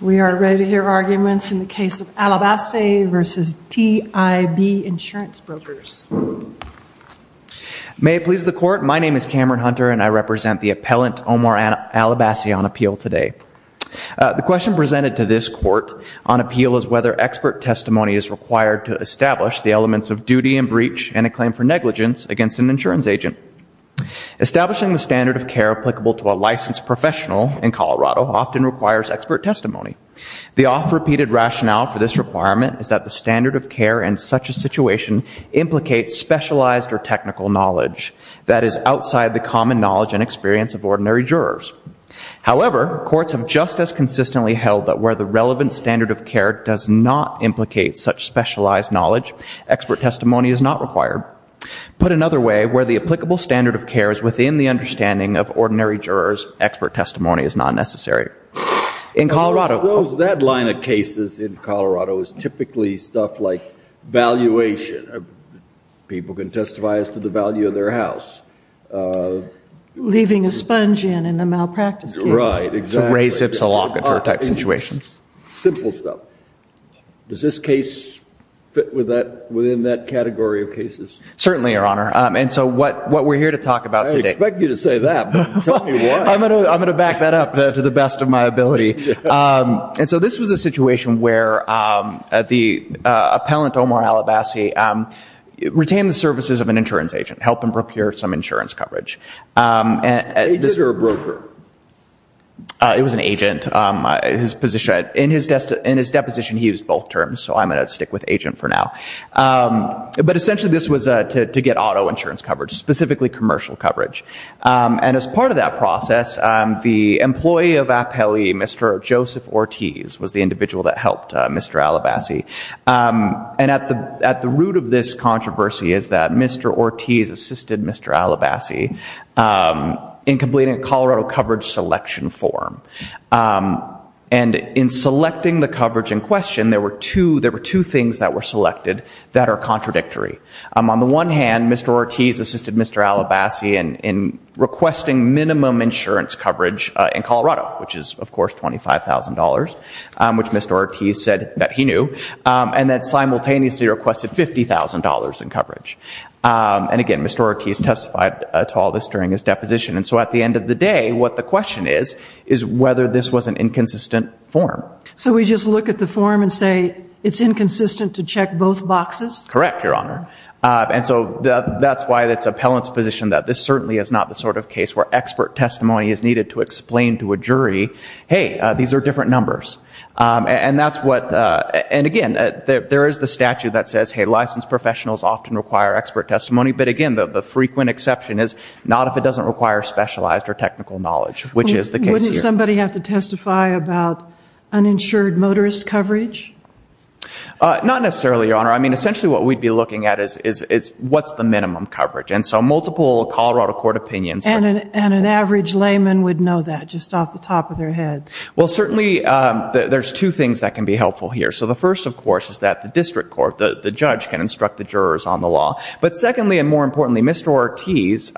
We are ready to hear arguments in the case of Alabassi v. T.I.B. Insurance Brokers. May it please the court, my name is Cameron Hunter and I represent the appellant Omar Alabassi on appeal today. The question presented to this court on appeal is whether expert testimony is required to establish the elements of duty and breach and a claim for negligence against an insurance agent. Establishing the standard of care applicable to a licensed professional in Colorado often requires expert testimony. The oft-repeated rationale for this requirement is that the standard of care in such a situation implicates specialized or technical knowledge that is outside the common knowledge and experience of ordinary jurors. However, courts have just as consistently held that where the relevant standard of care does not implicate such specialized knowledge, expert testimony is not required. Put another way, where the applicable standard of care is within the understanding of ordinary jurors, expert testimony is not necessary. In Colorado- Suppose that line of cases in Colorado is typically stuff like valuation. People can testify as to the value of their house. Leaving a sponge in in a malpractice case. Right, exactly. Ray zips a lock into a type of situation. Simple stuff. Does this case fit within that category of cases? Certainly, Your Honor. And so what we're here to talk about today- I didn't expect you to say that, but tell me why. I'm going to back that up to the best of my ability. And so this was a situation where the appellant, Omar Al-Abbasi, retained the services of an insurance agent, helped him procure some insurance coverage. Agent or a broker? It was an agent. In his deposition, he used both terms, so I'm going to stick with agent for now. But essentially this was to get auto insurance coverage, specifically commercial coverage. And as part of that process, the employee of Appellee, Mr. Joseph Ortiz, was the individual that helped Mr. Al-Abbasi. And at the root of this controversy is that Mr. Ortiz assisted Mr. Al-Abbasi in completing a Colorado coverage selection form. And in fact, there are two forms selected that are contradictory. On the one hand, Mr. Ortiz assisted Mr. Al-Abbasi in requesting minimum insurance coverage in Colorado, which is, of course, $25,000, which Mr. Ortiz said that he knew, and that simultaneously requested $50,000 in coverage. And again, Mr. Ortiz testified to all this during his deposition. And so at the end of the day, what the question is, is whether this was an inconsistent form. So we just look at the form and say, it's inconsistent to check both boxes? Correct, Your Honor. And so that's why it's appellant's position that this certainly is not the sort of case where expert testimony is needed to explain to a jury, hey, these are different numbers. And again, there is the statute that says, hey, licensed professionals often require expert testimony. But again, the frequent exception is not if it doesn't require specialized or technical knowledge, which is the case here. Does somebody have to testify about uninsured motorist coverage? Not necessarily, Your Honor. I mean, essentially what we'd be looking at is, what's the minimum coverage? And so multiple Colorado court opinions. And an average layman would know that just off the top of their head. Well, certainly there's two things that can be helpful here. So the first, of course, is that the district court, the judge, can instruct the jurors on the law. But secondly and more importantly, Mr. Ortiz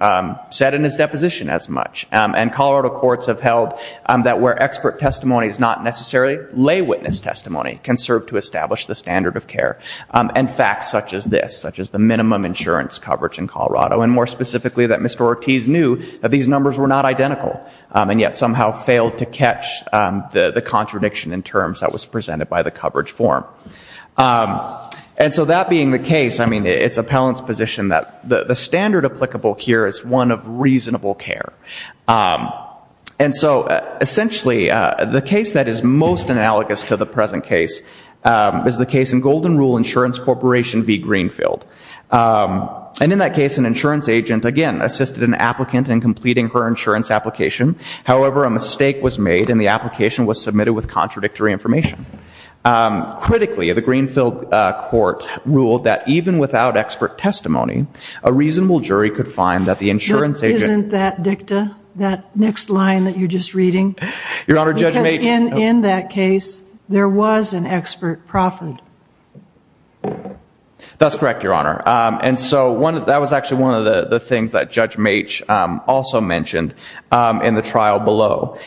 said in his deposition as much. And Colorado courts have failed that where expert testimony is not necessary, lay witness testimony can serve to establish the standard of care. And facts such as this, such as the minimum insurance coverage in Colorado. And more specifically, that Mr. Ortiz knew that these numbers were not identical. And yet somehow failed to catch the contradiction in terms that was presented by the coverage form. And so that being the case, I mean, it's appellant's position that the standard applicable here is one of reasonable care. And so essentially, the case that is most analogous to the present case is the case in Golden Rule Insurance Corporation v. Greenfield. And in that case, an insurance agent, again, assisted an applicant in completing her insurance application. However, a mistake was made and the application was submitted with contradictory information. Critically, the Greenfield court ruled that even without expert testimony, a reasonable the insurance agent... Isn't that dicta, that next line that you're just reading? Your Honor, Judge Mache... Because in that case, there was an expert proffered. That's correct, Your Honor. And so that was actually one of the things that Judge Mache also mentioned in the trial below.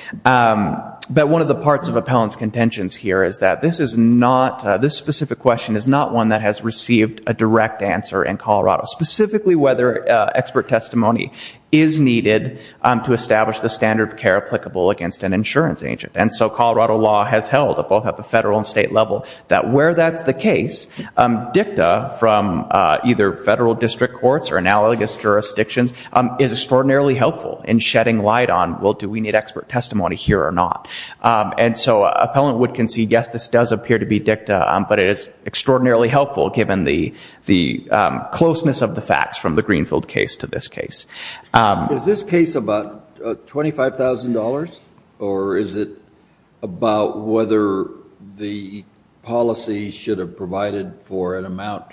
But one of the parts of appellant's contentions here is that this is not, this specific question is not one that has received a direct answer in Colorado, specifically whether expert testimony is needed to establish the standard of care applicable against an insurance agent. And so Colorado law has held, both at the federal and state level, that where that's the case, dicta from either federal district courts or analogous jurisdictions is extraordinarily helpful in shedding light on, well, do we need expert testimony here or not? And so appellant would concede, yes, this does appear to be dicta, but it is extraordinarily helpful given the closeness of the facts from the Greenfield case to this case. Is this case about $25,000 or is it about whether the policy should have provided for an amount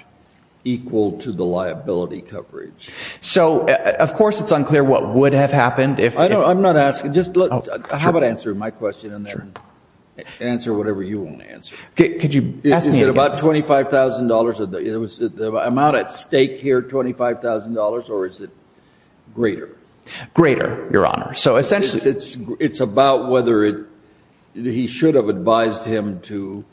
equal to the liability coverage? So of course it's unclear what would have happened if... I'm not asking, just look, how about answering my question in there and answer whatever you want to answer. Could you ask me again? Is it about $25,000? Is the amount at stake here $25,000 or is it greater? Greater, Your Honor. So essentially... It's about whether he should have advised him to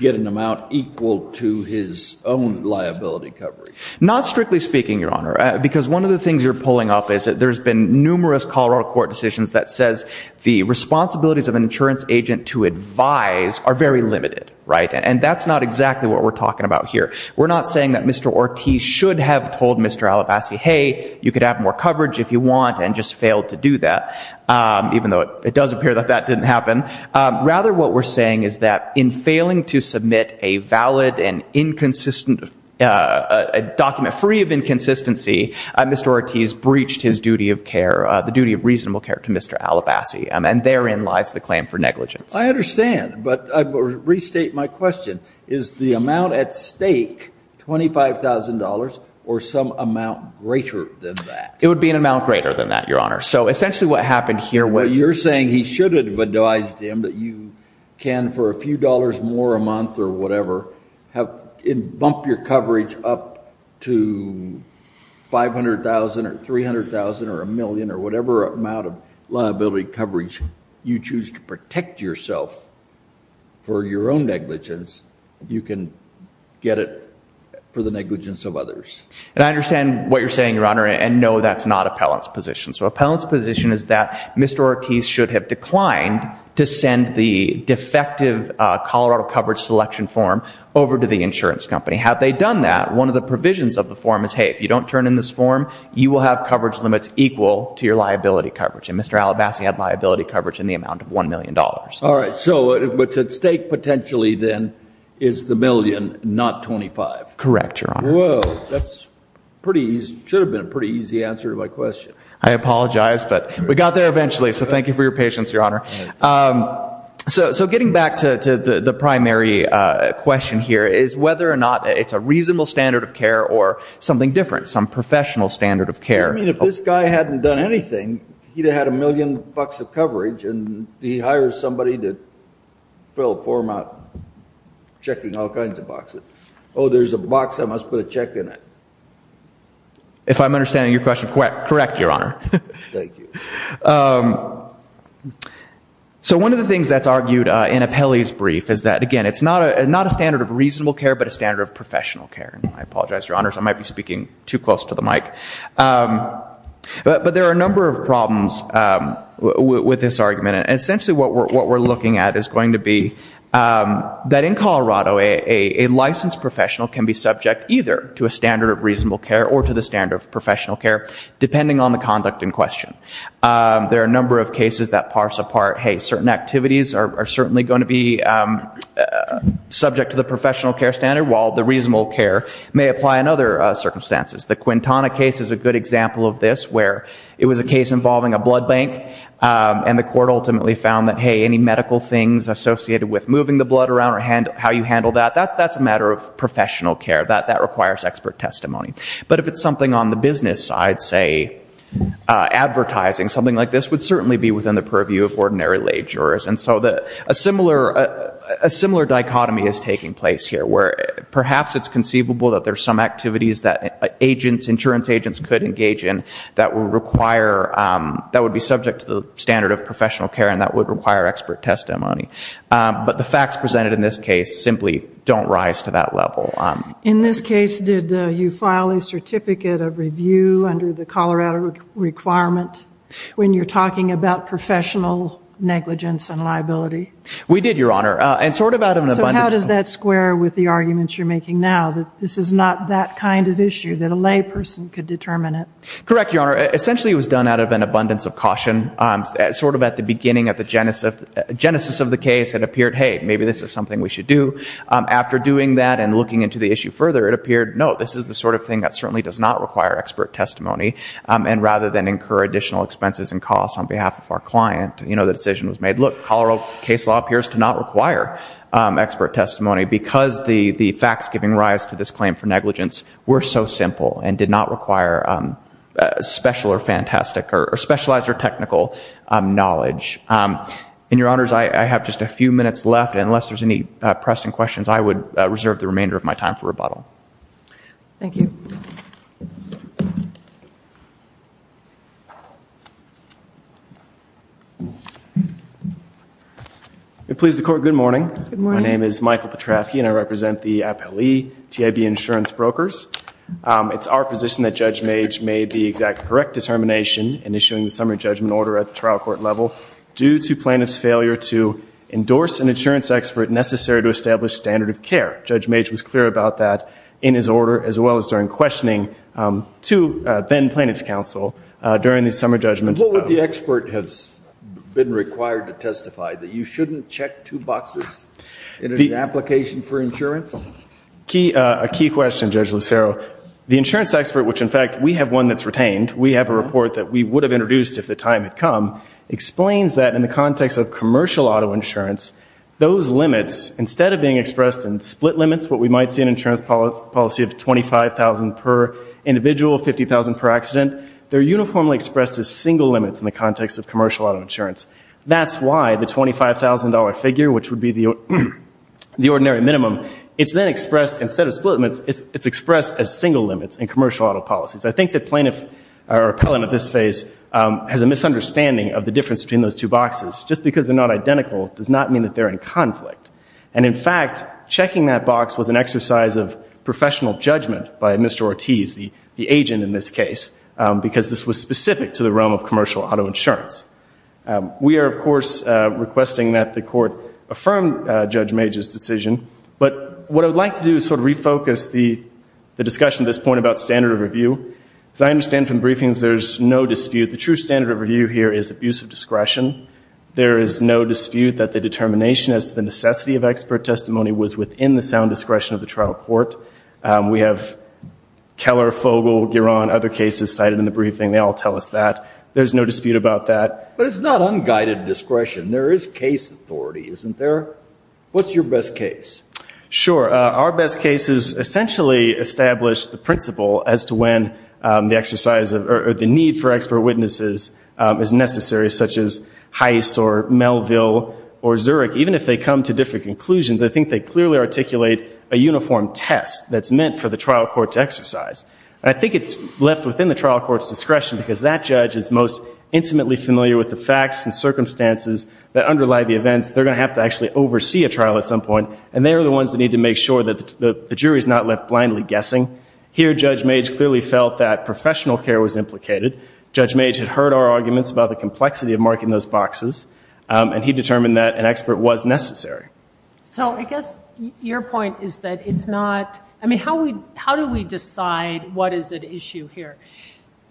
get an amount equal to his own liability coverage. Not strictly speaking, Your Honor, because one of the things you're pulling off is that there's been numerous Colorado court decisions that says the responsibilities of an insurance agent to advise are very limited, right? And that's not exactly what we're talking about here. We're not saying that Mr. Ortiz should have told Mr. Alabassi, hey, you could have more coverage if you want, and just failed to do that, even though it does appear that that didn't happen. Rather, what we're saying is that in failing to submit a valid and document free of inconsistency, Mr. Ortiz breached his duty of care, the duty of reasonable care to Mr. Alabassi, and therein lies the claim for negligence. I understand, but I restate my question. Is the amount at stake $25,000 or some amount greater than that? It would be an amount greater than that, Your Honor. So essentially what happened here was... You're saying he should have advised him that you can, for a few dollars more a month or whatever, bump your coverage up to $500,000 or $300,000 or a million or whatever amount of liability coverage you choose to protect yourself for your own negligence, you can get it for the negligence of others. And I understand what you're saying, Your Honor, and no, that's not appellant's position. So appellant's position is that Mr. Ortiz should have declined to send the defective Colorado coverage selection form over to the insurance company. Had they done that, one of the provisions of the form is, hey, if you don't turn in this form, you will have coverage limits equal to your liability coverage. And Mr. Alabaster had liability coverage in the amount of $1 million. All right. So what's at stake potentially then is the million, not $25,000. Correct, Your Honor. Whoa. That should have been a pretty easy answer to my question. I apologize, but we got there eventually. So thank you for your patience, Your Honor. So getting back to the primary question here is whether or not it's a reasonable standard of care or something different, some professional standard of care. You mean if this guy hadn't done anything, he'd have had a million bucks of coverage and he hires somebody to fill a format checking all kinds of boxes. Oh, there's a box. I must put a check in it. If I'm understanding your question correct, Your Honor. Thank you. So one of the things that's argued in appellee's brief is that, again, it's not a standard of reasonable care, but a standard of professional care. And I apologize, Your Honors, I might be speaking too close to the mic. But there are a number of problems with this argument. And essentially what we're looking at is going to be that in Colorado, a licensed professional can be subject either to a standard of reasonable care or to the standard of professional care, depending on the conduct in question. There are a number of cases that parse apart, hey, certain activities are certainly going to be subject to the professional care standard while the reasonable care may apply in other circumstances. The Quintana case is a good example of this, where it was a case involving a blood bank and the court ultimately found that, hey, any medical things associated with moving the blood around or how you handle that, that's a matter of professional care. That requires expert testimony. But if it's something on the business side, say advertising, something like this would certainly be within the purview of ordinary lay jurors. And so a similar dichotomy is taking place here, where perhaps it's conceivable that there's some activities that insurance agents could engage in that would be subject to the standard of professional care and that would require expert testimony. But the facts presented in this case simply don't rise to that level. In this case, did you file a certificate of review under the Colorado requirement when you're talking about professional negligence and liability? We did, Your Honor. So how does that square with the arguments you're making now, that this is not that kind of issue, that a lay person could determine it? Correct, Your Honor. Essentially, it was done out of an abundance of caution. Sort of at the beginning, at the genesis of the case, it appeared, hey, maybe this is something we should do. After doing that and looking into the issue further, it appeared, no, this is the sort of thing that certainly does not require expert testimony. And rather than incur additional expenses and costs on behalf of our client, the decision was made, look, Colorado case law appears to not require expert testimony because the facts giving rise to this claim for negligence were so simple and did not require special or fantastic or specialized or technical knowledge. In Your Honors, I have just a few minutes left. Unless there's any pressing questions, I would reserve the remainder of my time for rebuttal. Thank you. If it pleases the Court, good morning. Good morning. My name is Michael Petrovsky, and I represent the appellee, TIB Insurance Brokers. It's our position that Judge Mage made the exact correct determination in issuing the summary judgment order at the trial court level due to plaintiff's failure to endorse an insurance expert necessary to establish standard of care. Judge Mage was clear about that in his order as well as during questioning to then plaintiff's counsel during the summary judgment. What would the expert have been required to testify, that you shouldn't check two boxes in an application for insurance? A key question, Judge Lucero. The insurance expert, which, in fact, we have one that's retained, we have a report that we would have introduced if the time had come, explains that in the context of commercial auto insurance, those limits, instead of being expressed in split limits, what we might see in insurance policy of $25,000 per individual, $50,000 per accident, they're uniformly expressed as single limits in the context of commercial auto insurance. That's why the $25,000 figure, which would be the ordinary minimum, it's then expressed, instead of split limits, it's expressed as single limits in commercial auto policies. I think that plaintiff or appellant at this phase has a misunderstanding of the difference between those two boxes. Just because they're not identical does not mean that they're in conflict. And, in fact, checking that box was an exercise of professional judgment by Mr. Ortiz, the agent in this case, because this was specific to the realm of commercial auto insurance. We are, of course, requesting that the court affirm Judge Mage's decision. But what I would like to do is sort of refocus the discussion at this point about standard of review. As I understand from briefings, there's no dispute. The true standard of review here is abusive discretion. There is no dispute that the determination as to the necessity of expert testimony was within the sound discretion of the trial court. We have Keller, Fogel, Giron, other cases cited in the briefing. They all tell us that. There's no dispute about that. But it's not unguided discretion. There is case authority, isn't there? What's your best case? Sure. Our best cases essentially establish the principle as to when the exercise or the need for expert witnesses is necessary, such as Heiss or Melville or Zurich. Even if they come to different conclusions, I think they clearly articulate a uniform test that's meant for the trial court to exercise. And I think it's left within the trial court's discretion because that judge is most intimately familiar with the facts and circumstances that underlie the events. They're going to have to actually oversee a trial at some point. And they are the ones that need to make sure that the jury is not left blindly guessing. Here, Judge Mage clearly felt that professional care was implicated. Judge Mage had heard our arguments about the complexity of marking those boxes. And he determined that an expert was necessary. So I guess your point is that it's not, I mean, how do we decide what is at issue here?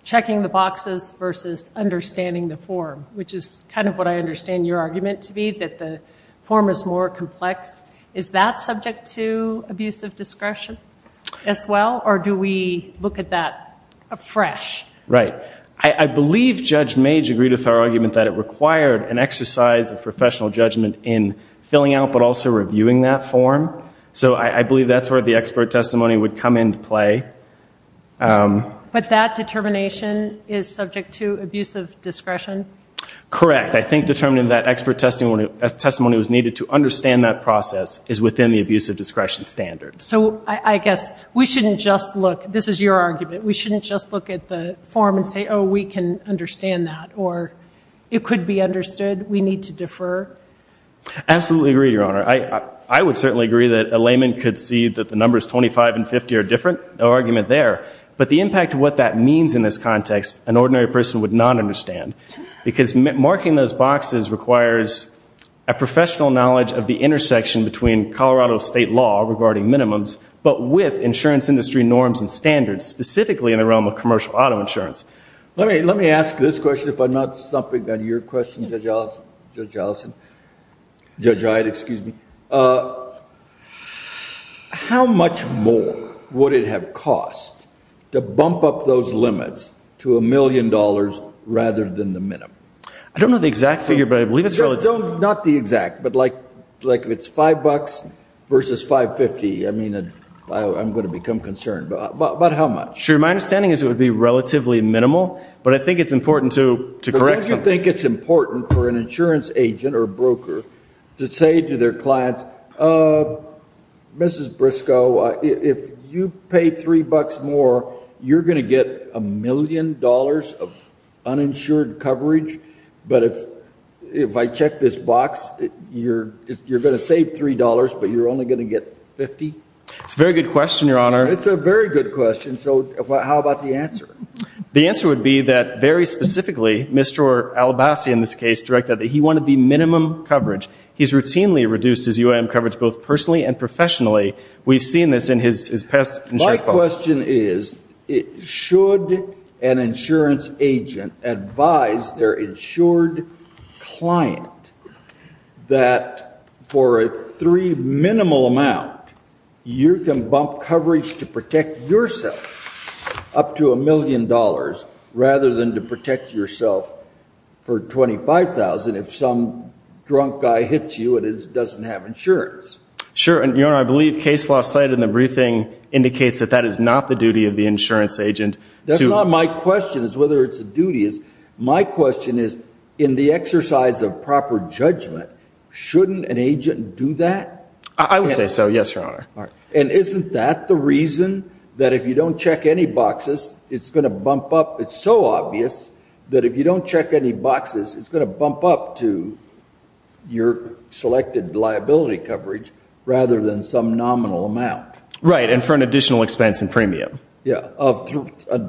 Checking the boxes versus understanding the form, which is kind of what I understand your argument to be, that the form is more complex. Is that subject to abusive discretion as well? Or do we look at that afresh? Right. I believe Judge Mage agreed with our argument that it required an exercise of professional judgment in filling out but also reviewing that form. So I believe that's where the expert testimony would come into play. But that determination is subject to abusive discretion? Correct. I think determining that expert testimony was needed to understand that process is within the abusive discretion standard. So I guess we shouldn't just look, this is your argument, we shouldn't just look at the form and say, oh, we can understand that. Or it could be understood, we need to defer. I absolutely agree, Your Honor. I would certainly agree that a layman could see that the numbers 25 and 50 are different, no argument there. But the impact of what that means in this context an ordinary person would not understand. Because marking those boxes requires a professional knowledge of the intersection between Colorado state law regarding minimums, but with insurance industry norms and standards, specifically in the realm of commercial auto insurance. Let me ask this question, if I'm not stumping on your question, Judge Allison. Judge Iyad, excuse me. How much more would it have cost to bump up those limits to a million dollars rather than the minimum? I don't know the exact figure, but I believe it's relative. Not the exact, but like if it's $5 versus $5.50, I mean, I'm going to become concerned. But how much? Sure, my understanding is it would be relatively minimal, but I think it's important to correct some. But don't you think it's important for an insurance agent or broker to say to their clients, Mrs. Briscoe, if you pay $3 more, you're going to get a million dollars of uninsured coverage. But if I check this box, you're going to save $3, but you're only going to get $50? It's a very good question, Your Honor. It's a very good question. So how about the answer? The answer would be that very specifically, Mr. Albasi in this case, directed that he wanted the minimum coverage. He's routinely reduced his UIM coverage, both personally and professionally. We've seen this in his past insurance policy. My question is, should an insurance agent advise their insured client that for a three minimal amount, you can bump coverage to protect yourself up to a million dollars rather than to protect yourself for $25,000 if some drunk guy hits you and doesn't have insurance? Sure. And Your Honor, I believe case law cited in the briefing indicates that that is not the duty of the insurance agent. That's not my question, is whether it's a duty. My question is, in the exercise of proper judgment, shouldn't an agent do that? I would say so, yes, Your Honor. And isn't that the reason that if you don't check any boxes, it's going to bump up? It's so obvious that if you don't check any boxes, it's going to bump up to your selected liability coverage rather than some nominal amount. Right, and for an additional expense in premium. Yeah, of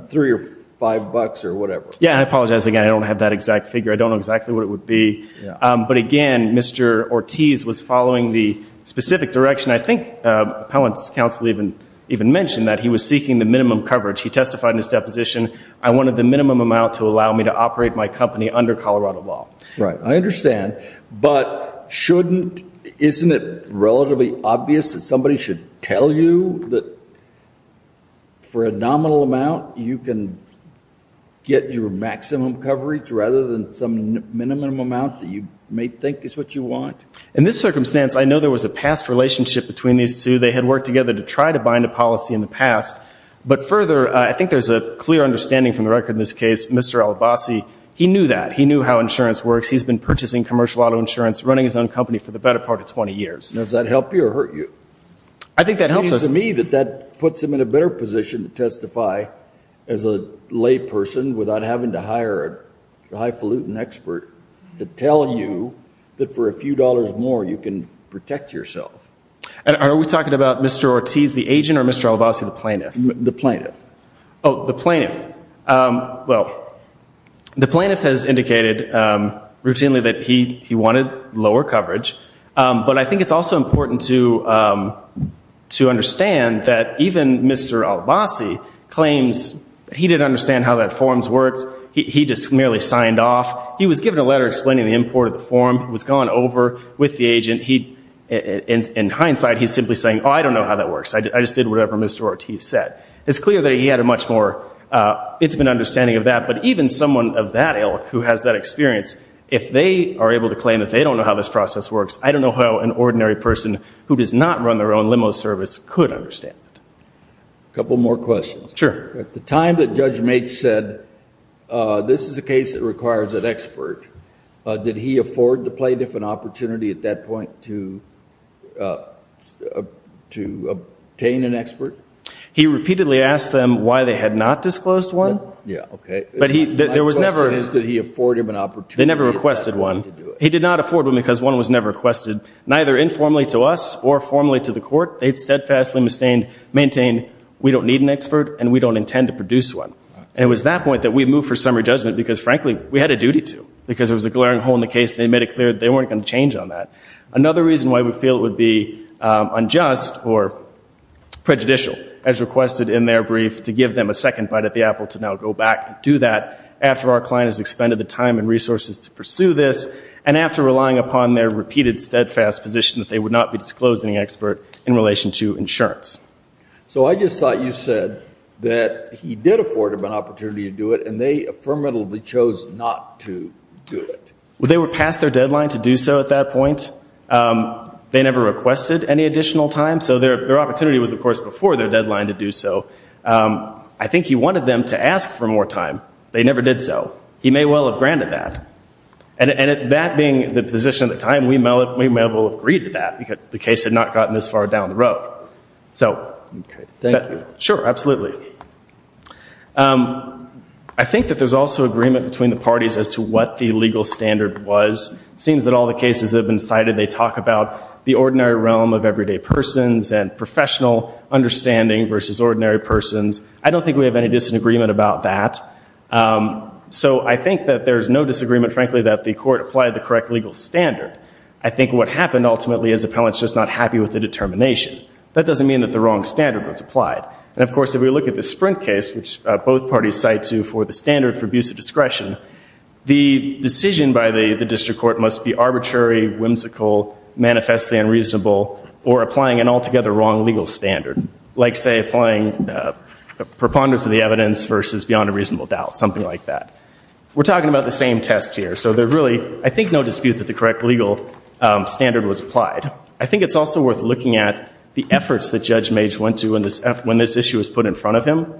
three or five bucks or whatever. Yeah, I apologize again. I don't have that exact figure. I don't know exactly what it would be. But again, Mr. Ortiz was following the specific direction. I think Appellant's Counsel even mentioned that he was seeking the minimum coverage. He testified in his deposition, I wanted the minimum amount to allow me to operate my company under Colorado law. Right, I understand. But shouldn't, isn't it relatively obvious that somebody should tell you that for a nominal amount, you can get your maximum coverage rather than some minimum amount that you may think is what you want? In this circumstance, I know there was a past relationship between these two. They had worked together to try to bind a policy in the past. But further, I think there's a clear understanding from the record in this case, Mr. Alabasi, he knew that. He knew how insurance works. He's been purchasing commercial auto insurance, running his own company for the better part of 20 years. Now, does that help you or hurt you? I think that helps us. It seems to me that that puts him in a better position to testify as a lay person without having to hire a highfalutin expert to tell you that for a few dollars more, you can protect yourself. Are we talking about Mr. Ortiz, the agent, or Mr. Alabasi, the plaintiff? The plaintiff. The plaintiff. Well, the plaintiff has indicated routinely that he wanted lower coverage. But I think it's also important to understand that even Mr. Alabasi claims he didn't understand how that forms worked. He just merely signed off. He was given a letter explaining the import of the form. He was gone over with the agent. In hindsight, he's simply saying, I don't know how that works. I just did whatever Mr. Ortiz said. It's clear that he had a much more, it's been an understanding of that. But even someone of that ilk who has that experience, if they are able to claim that they don't know how this process works, I don't know how an ordinary person who does not run their own limo service could understand that. A couple more questions. Sure. At the time that Judge Maitch said, this is a case that requires an expert, did he afford the plaintiff an opportunity at that point to obtain an expert? He repeatedly asked them why they had not disclosed one. Yeah, okay. But he, there was never- My question is, did he afford him an opportunity at that point to do it? They never requested one. He did not afford one because one was never requested, neither informally to us or formally to the court. They steadfastly maintained, we don't need an expert and we don't intend to produce one. And it was that point that we moved for summary judgment because frankly, we had a duty to. Because there was a glaring hole in the case they made it clear that they weren't going to change on that. Another reason why we feel it would be unjust or prejudicial as requested in their brief to give them a second bite at the apple to now go back and do that after our client has expended the time and resources to pursue this and after relying upon their repeated steadfast position that they would not be disclosing an expert in relation to insurance. So I just thought you said that he did afford him an opportunity to do it and they affirmatively chose not to do it. Well, they were past their deadline to do so at that point. They never requested any additional time. So their opportunity was, of course, before their deadline to do so. I think he wanted them to ask for more time. They never did so. He may well have granted that. And that being the position at the time, we may well have agreed to that because the case had not gotten this far down the road. So thank you. Sure, absolutely. I think that there's also agreement between the parties as to what the legal standard was. It seems that all the cases that have been cited, they talk about the ordinary realm of everyday persons and professional understanding versus ordinary persons. I don't think we have any disagreement about that. So I think that there's no disagreement, frankly, that the court applied the correct legal standard. I think what happened ultimately is appellants just not happy with the determination. That doesn't mean that the wrong standard was applied. And of course, if we look at the Sprint case, which both parties cite to for the standard for abuse of discretion, the decision by the district court must be arbitrary, whimsical, manifestly unreasonable, or applying an altogether wrong legal standard, like say applying preponderance of the evidence versus beyond a reasonable doubt, something like that. We're talking about the same tests here. So there really, I think, no dispute that the correct legal standard was applied. I think it's also worth looking at the efforts that Judge Mage went to when this issue was put in front of him.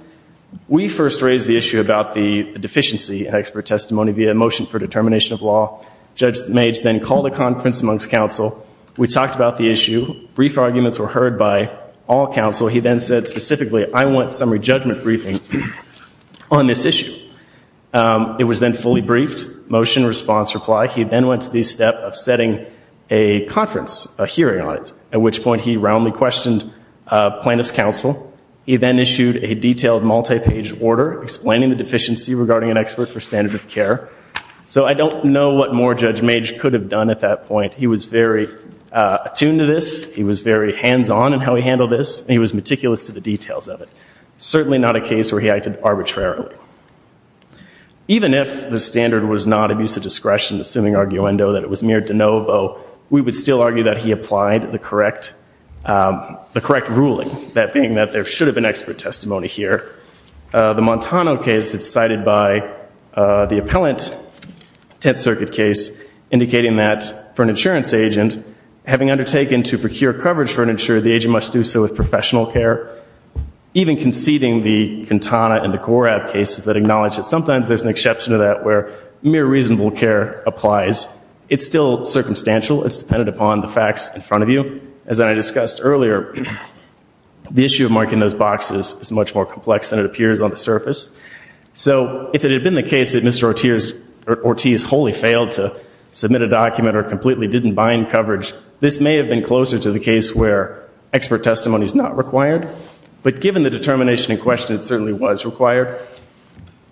We first raised the issue about the deficiency in expert testimony via a motion for determination of law. Judge Mage then called a conference amongst counsel. We talked about the issue. Brief arguments were heard by all counsel. He then said specifically, I want summary judgment briefing on this issue. It was then fully briefed, motion, response, reply. He then went to the step of setting a conference, a hearing on it, at which point he roundly questioned plaintiff's counsel. He then issued a detailed multi-page order explaining the deficiency regarding an expert for standard of care. So I don't know what more Judge Mage could have done at that point. He was very attuned to this. He was very hands-on in how he handled this. He was meticulous to the details of it. Certainly not a case where he acted arbitrarily. Even if the standard was not abuse of discretion, assuming arguendo that it was mere de novo, we would still argue that he applied the correct ruling, that being that there should have been expert testimony here. The Montano case is cited by the appellant, Tenth Circuit case, indicating that for an insurance agent, having undertaken to procure coverage for an insurer, the agent must do so with professional care. Even conceding the Cantana and the Korab cases that acknowledge that sometimes there's an exception to that where mere reasonable care applies, it's still circumstantial. It's dependent upon the facts in front of you. As I discussed earlier, the issue of marking those boxes is much more complex than it appears on the surface. So if it had been the case that Mr. Ortiz wholly failed to submit a document or completely didn't bind coverage, this may have been closer to the case where expert testimony is not required. But given the determination in question, it certainly was required.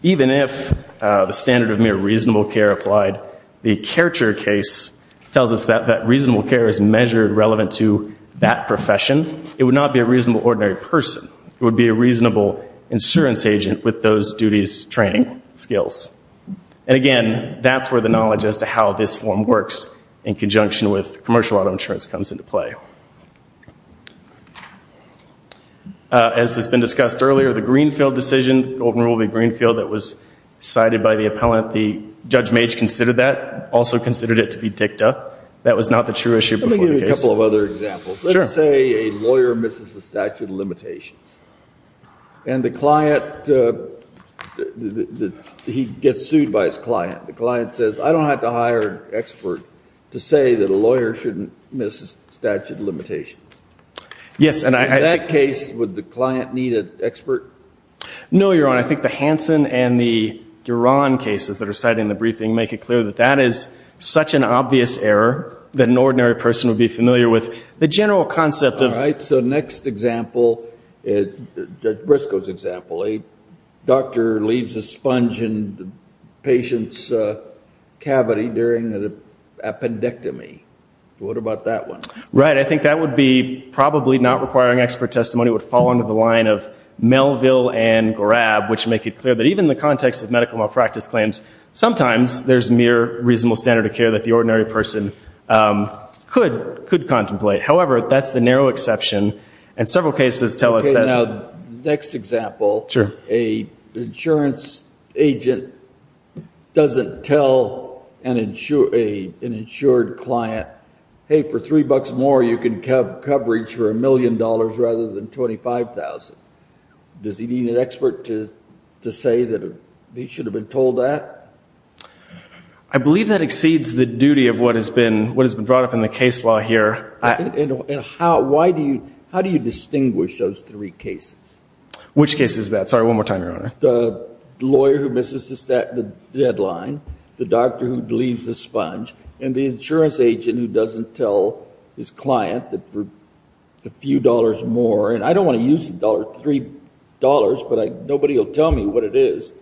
Even if the standard of mere reasonable care applied, the Kercher case tells us that reasonable care is measured relevant to that profession. It would not be a reasonable ordinary person. It would be a reasonable insurance agent with those duties, training, skills. And again, that's where the knowledge as to how this form works in conjunction with commercial auto insurance comes into play. As has been discussed earlier, the Greenfield decision, Golden Rule v. Greenfield, that was cited by the appellant, Judge Mage considered that, also considered it to be dicta. That was not the true issue before the case. Let me give you a couple of other examples. Let's say a lawyer misses the statute of limitations. And the client, he gets sued by his client. The client says, I don't have to hire an expert to say that a lawyer shouldn't miss the statute of limitations. In that case, would the client need an expert? No, Your Honor. I think the Hansen and the Gueron cases that are cited in the briefing make it clear that that is such an obvious error that an ordinary person would be familiar with. The general concept of All right. So next example, Judge Briscoe's example. A doctor leaves a sponge in the patient's cavity during an appendectomy. What about that one? Right. I think that would be probably not requiring expert testimony. It would fall under the line of Melville and Gorab, which make it clear that even in the context of medical malpractice claims, sometimes there's mere reasonable standard of care that the ordinary person could contemplate. However, that's the narrow exception. And several cases tell us that Now, next example, a insurance agent doesn't tell an insured client, hey, for three bucks more you can cover coverage for a million dollars rather than $25,000. Does he need an expert to say that he should have been told that? I believe that exceeds the duty of what has been brought up in the case law here. And how do you distinguish those three cases? Which case is that? Sorry, one more time, Your Honor. The lawyer who misses the deadline, the doctor who leaves the sponge, and the insurance agent who doesn't tell his client that for a few dollars more, and I don't want to use $3, but nobody will tell me what it is,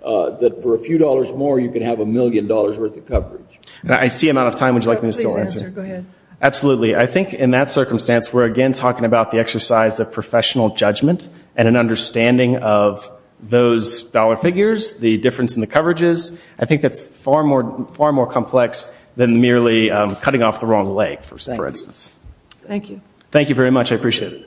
that for a few dollars more you could have a million dollars worth of coverage. I see I'm out of time. Would you like me to still answer? Go ahead. Absolutely. I think in that circumstance we're again talking about the exercise of professional judgment and an understanding of those dollar figures, the difference in the coverages. I think that's far more complex than merely cutting off the wrong leg, for instance. Thank you. Thank you very much. I appreciate it.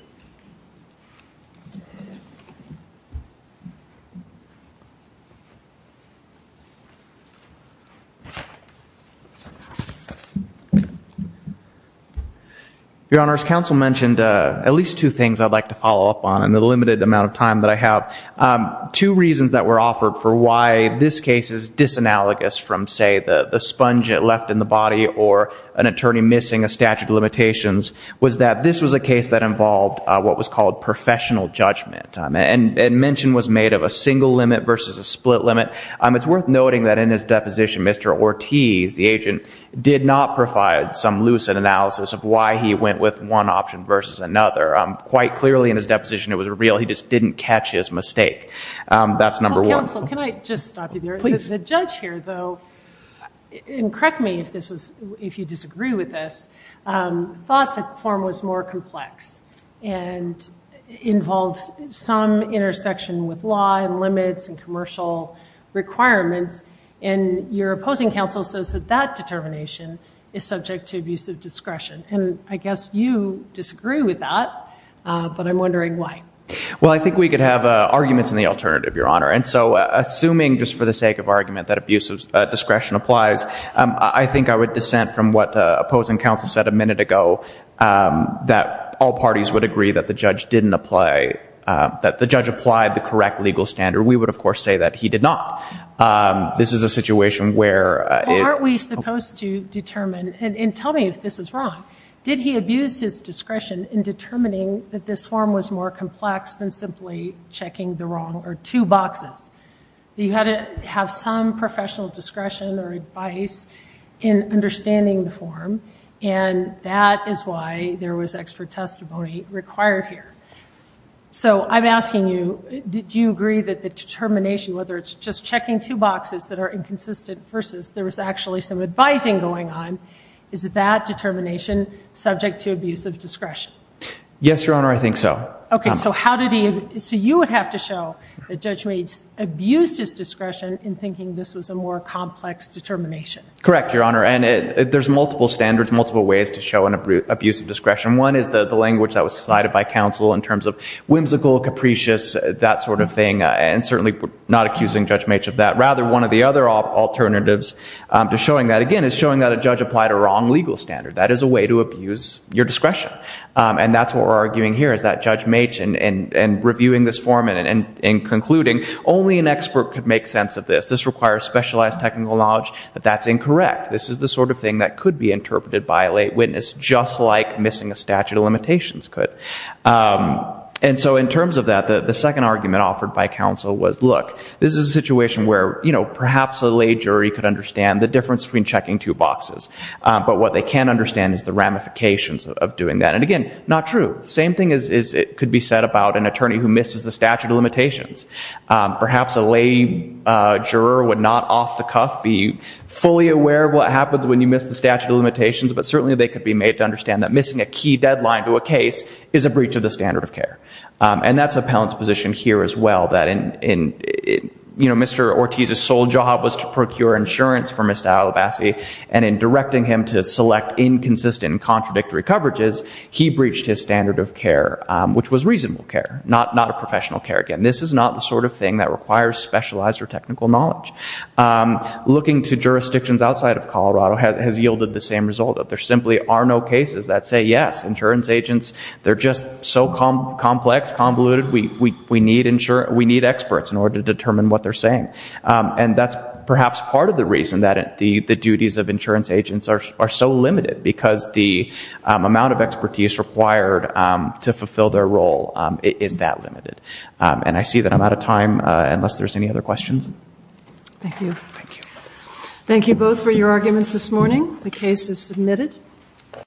Your Honor, as counsel mentioned, at least two things I'd like to follow up on in the limited amount of time that I have. Two reasons that were offered for why this case is disanalogous from say the sponge left in the body or an attorney missing a statute of limitations was that this was a case that was called professional judgment and mention was made of a single limit versus a split limit. It's worth noting that in his deposition, Mr. Ortiz, the agent, did not provide some lucid analysis of why he went with one option versus another. Quite clearly in his deposition it was real. He just didn't catch his mistake. That's number one. Counsel, can I just stop you there? Please. The judge here, though, and correct me if you disagree with this, thought the form was more complex and involved some intersection with law and limits and commercial requirements. Your opposing counsel says that that determination is subject to abusive discretion. I guess you disagree with that, but I'm wondering why. I think we could have arguments in the alternative, Your Honor. Assuming just for the sake of argument that abusive discretion applies, I think I would dissent from what opposing counsel said a minute ago, that all parties would agree that the judge didn't apply, that the judge applied the correct legal standard. We would, of course, say that he did not. This is a situation where it Well, aren't we supposed to determine, and tell me if this is wrong, did he abuse his discretion in determining that this form was more complex than simply checking the wrong or two boxes? You had to have some professional discretion or advice in understanding the form, and that is why there was expert testimony required here. So I'm asking you, did you agree that the determination, whether it's just checking two boxes that are inconsistent versus there was actually some advising going on, is that determination subject to abusive discretion? Yes, Your Honor, I think so. OK, so you would have to show that Judge Maitz abused his discretion in thinking this was a more complex determination. Correct, Your Honor, and there's multiple standards, multiple ways to show an abusive discretion. One is the language that was cited by counsel in terms of whimsical, capricious, that sort of thing, and certainly not accusing Judge Maitz of that. Rather, one of the other alternatives to showing that, again, is showing that a judge applied a wrong legal standard. That is a way to abuse your discretion, and that's what we're arguing here, is that Judge Maitz, in reviewing this form and concluding, only an expert could make sense of this. This requires specialized technical knowledge that that's incorrect. This is the sort of thing that could be interpreted by a lay witness, just like missing a statute of limitations could. And so in terms of that, the second argument offered by counsel was, look, this is a situation where perhaps a lay jury could understand the difference between checking two boxes, but what they can't understand is the ramifications of doing that. And again, not true. The same thing could be said about an attorney who misses the statute of limitations. Perhaps a lay juror would not off the cuff be fully aware of what happens when you miss the statute of limitations, but certainly they could be made to understand that missing a key deadline to a case is a breach of the standard of care. And that's appellant's position here as well, that Mr. Ortiz's sole job was to procure insurance for Mr. Alabassi, and in directing him to select inconsistent and contradictory coverages, he breached his standard of care, which was reasonable care, not a professional care. Again, this is not the sort of thing that requires specialized or technical knowledge. Looking to jurisdictions outside of Colorado has yielded the same result, that there simply are no cases that say, yes, insurance agents, they're just so complex, convoluted, we need experts in order to determine what they're saying. And that's perhaps part of the reason that the duties of insurance agents are so limited, because the amount of expertise required to fulfill their role is that limited. And I see that I'm out of time, unless there's any other questions. Thank you. Thank you. Thank you both for your arguments this morning. The case is submitted.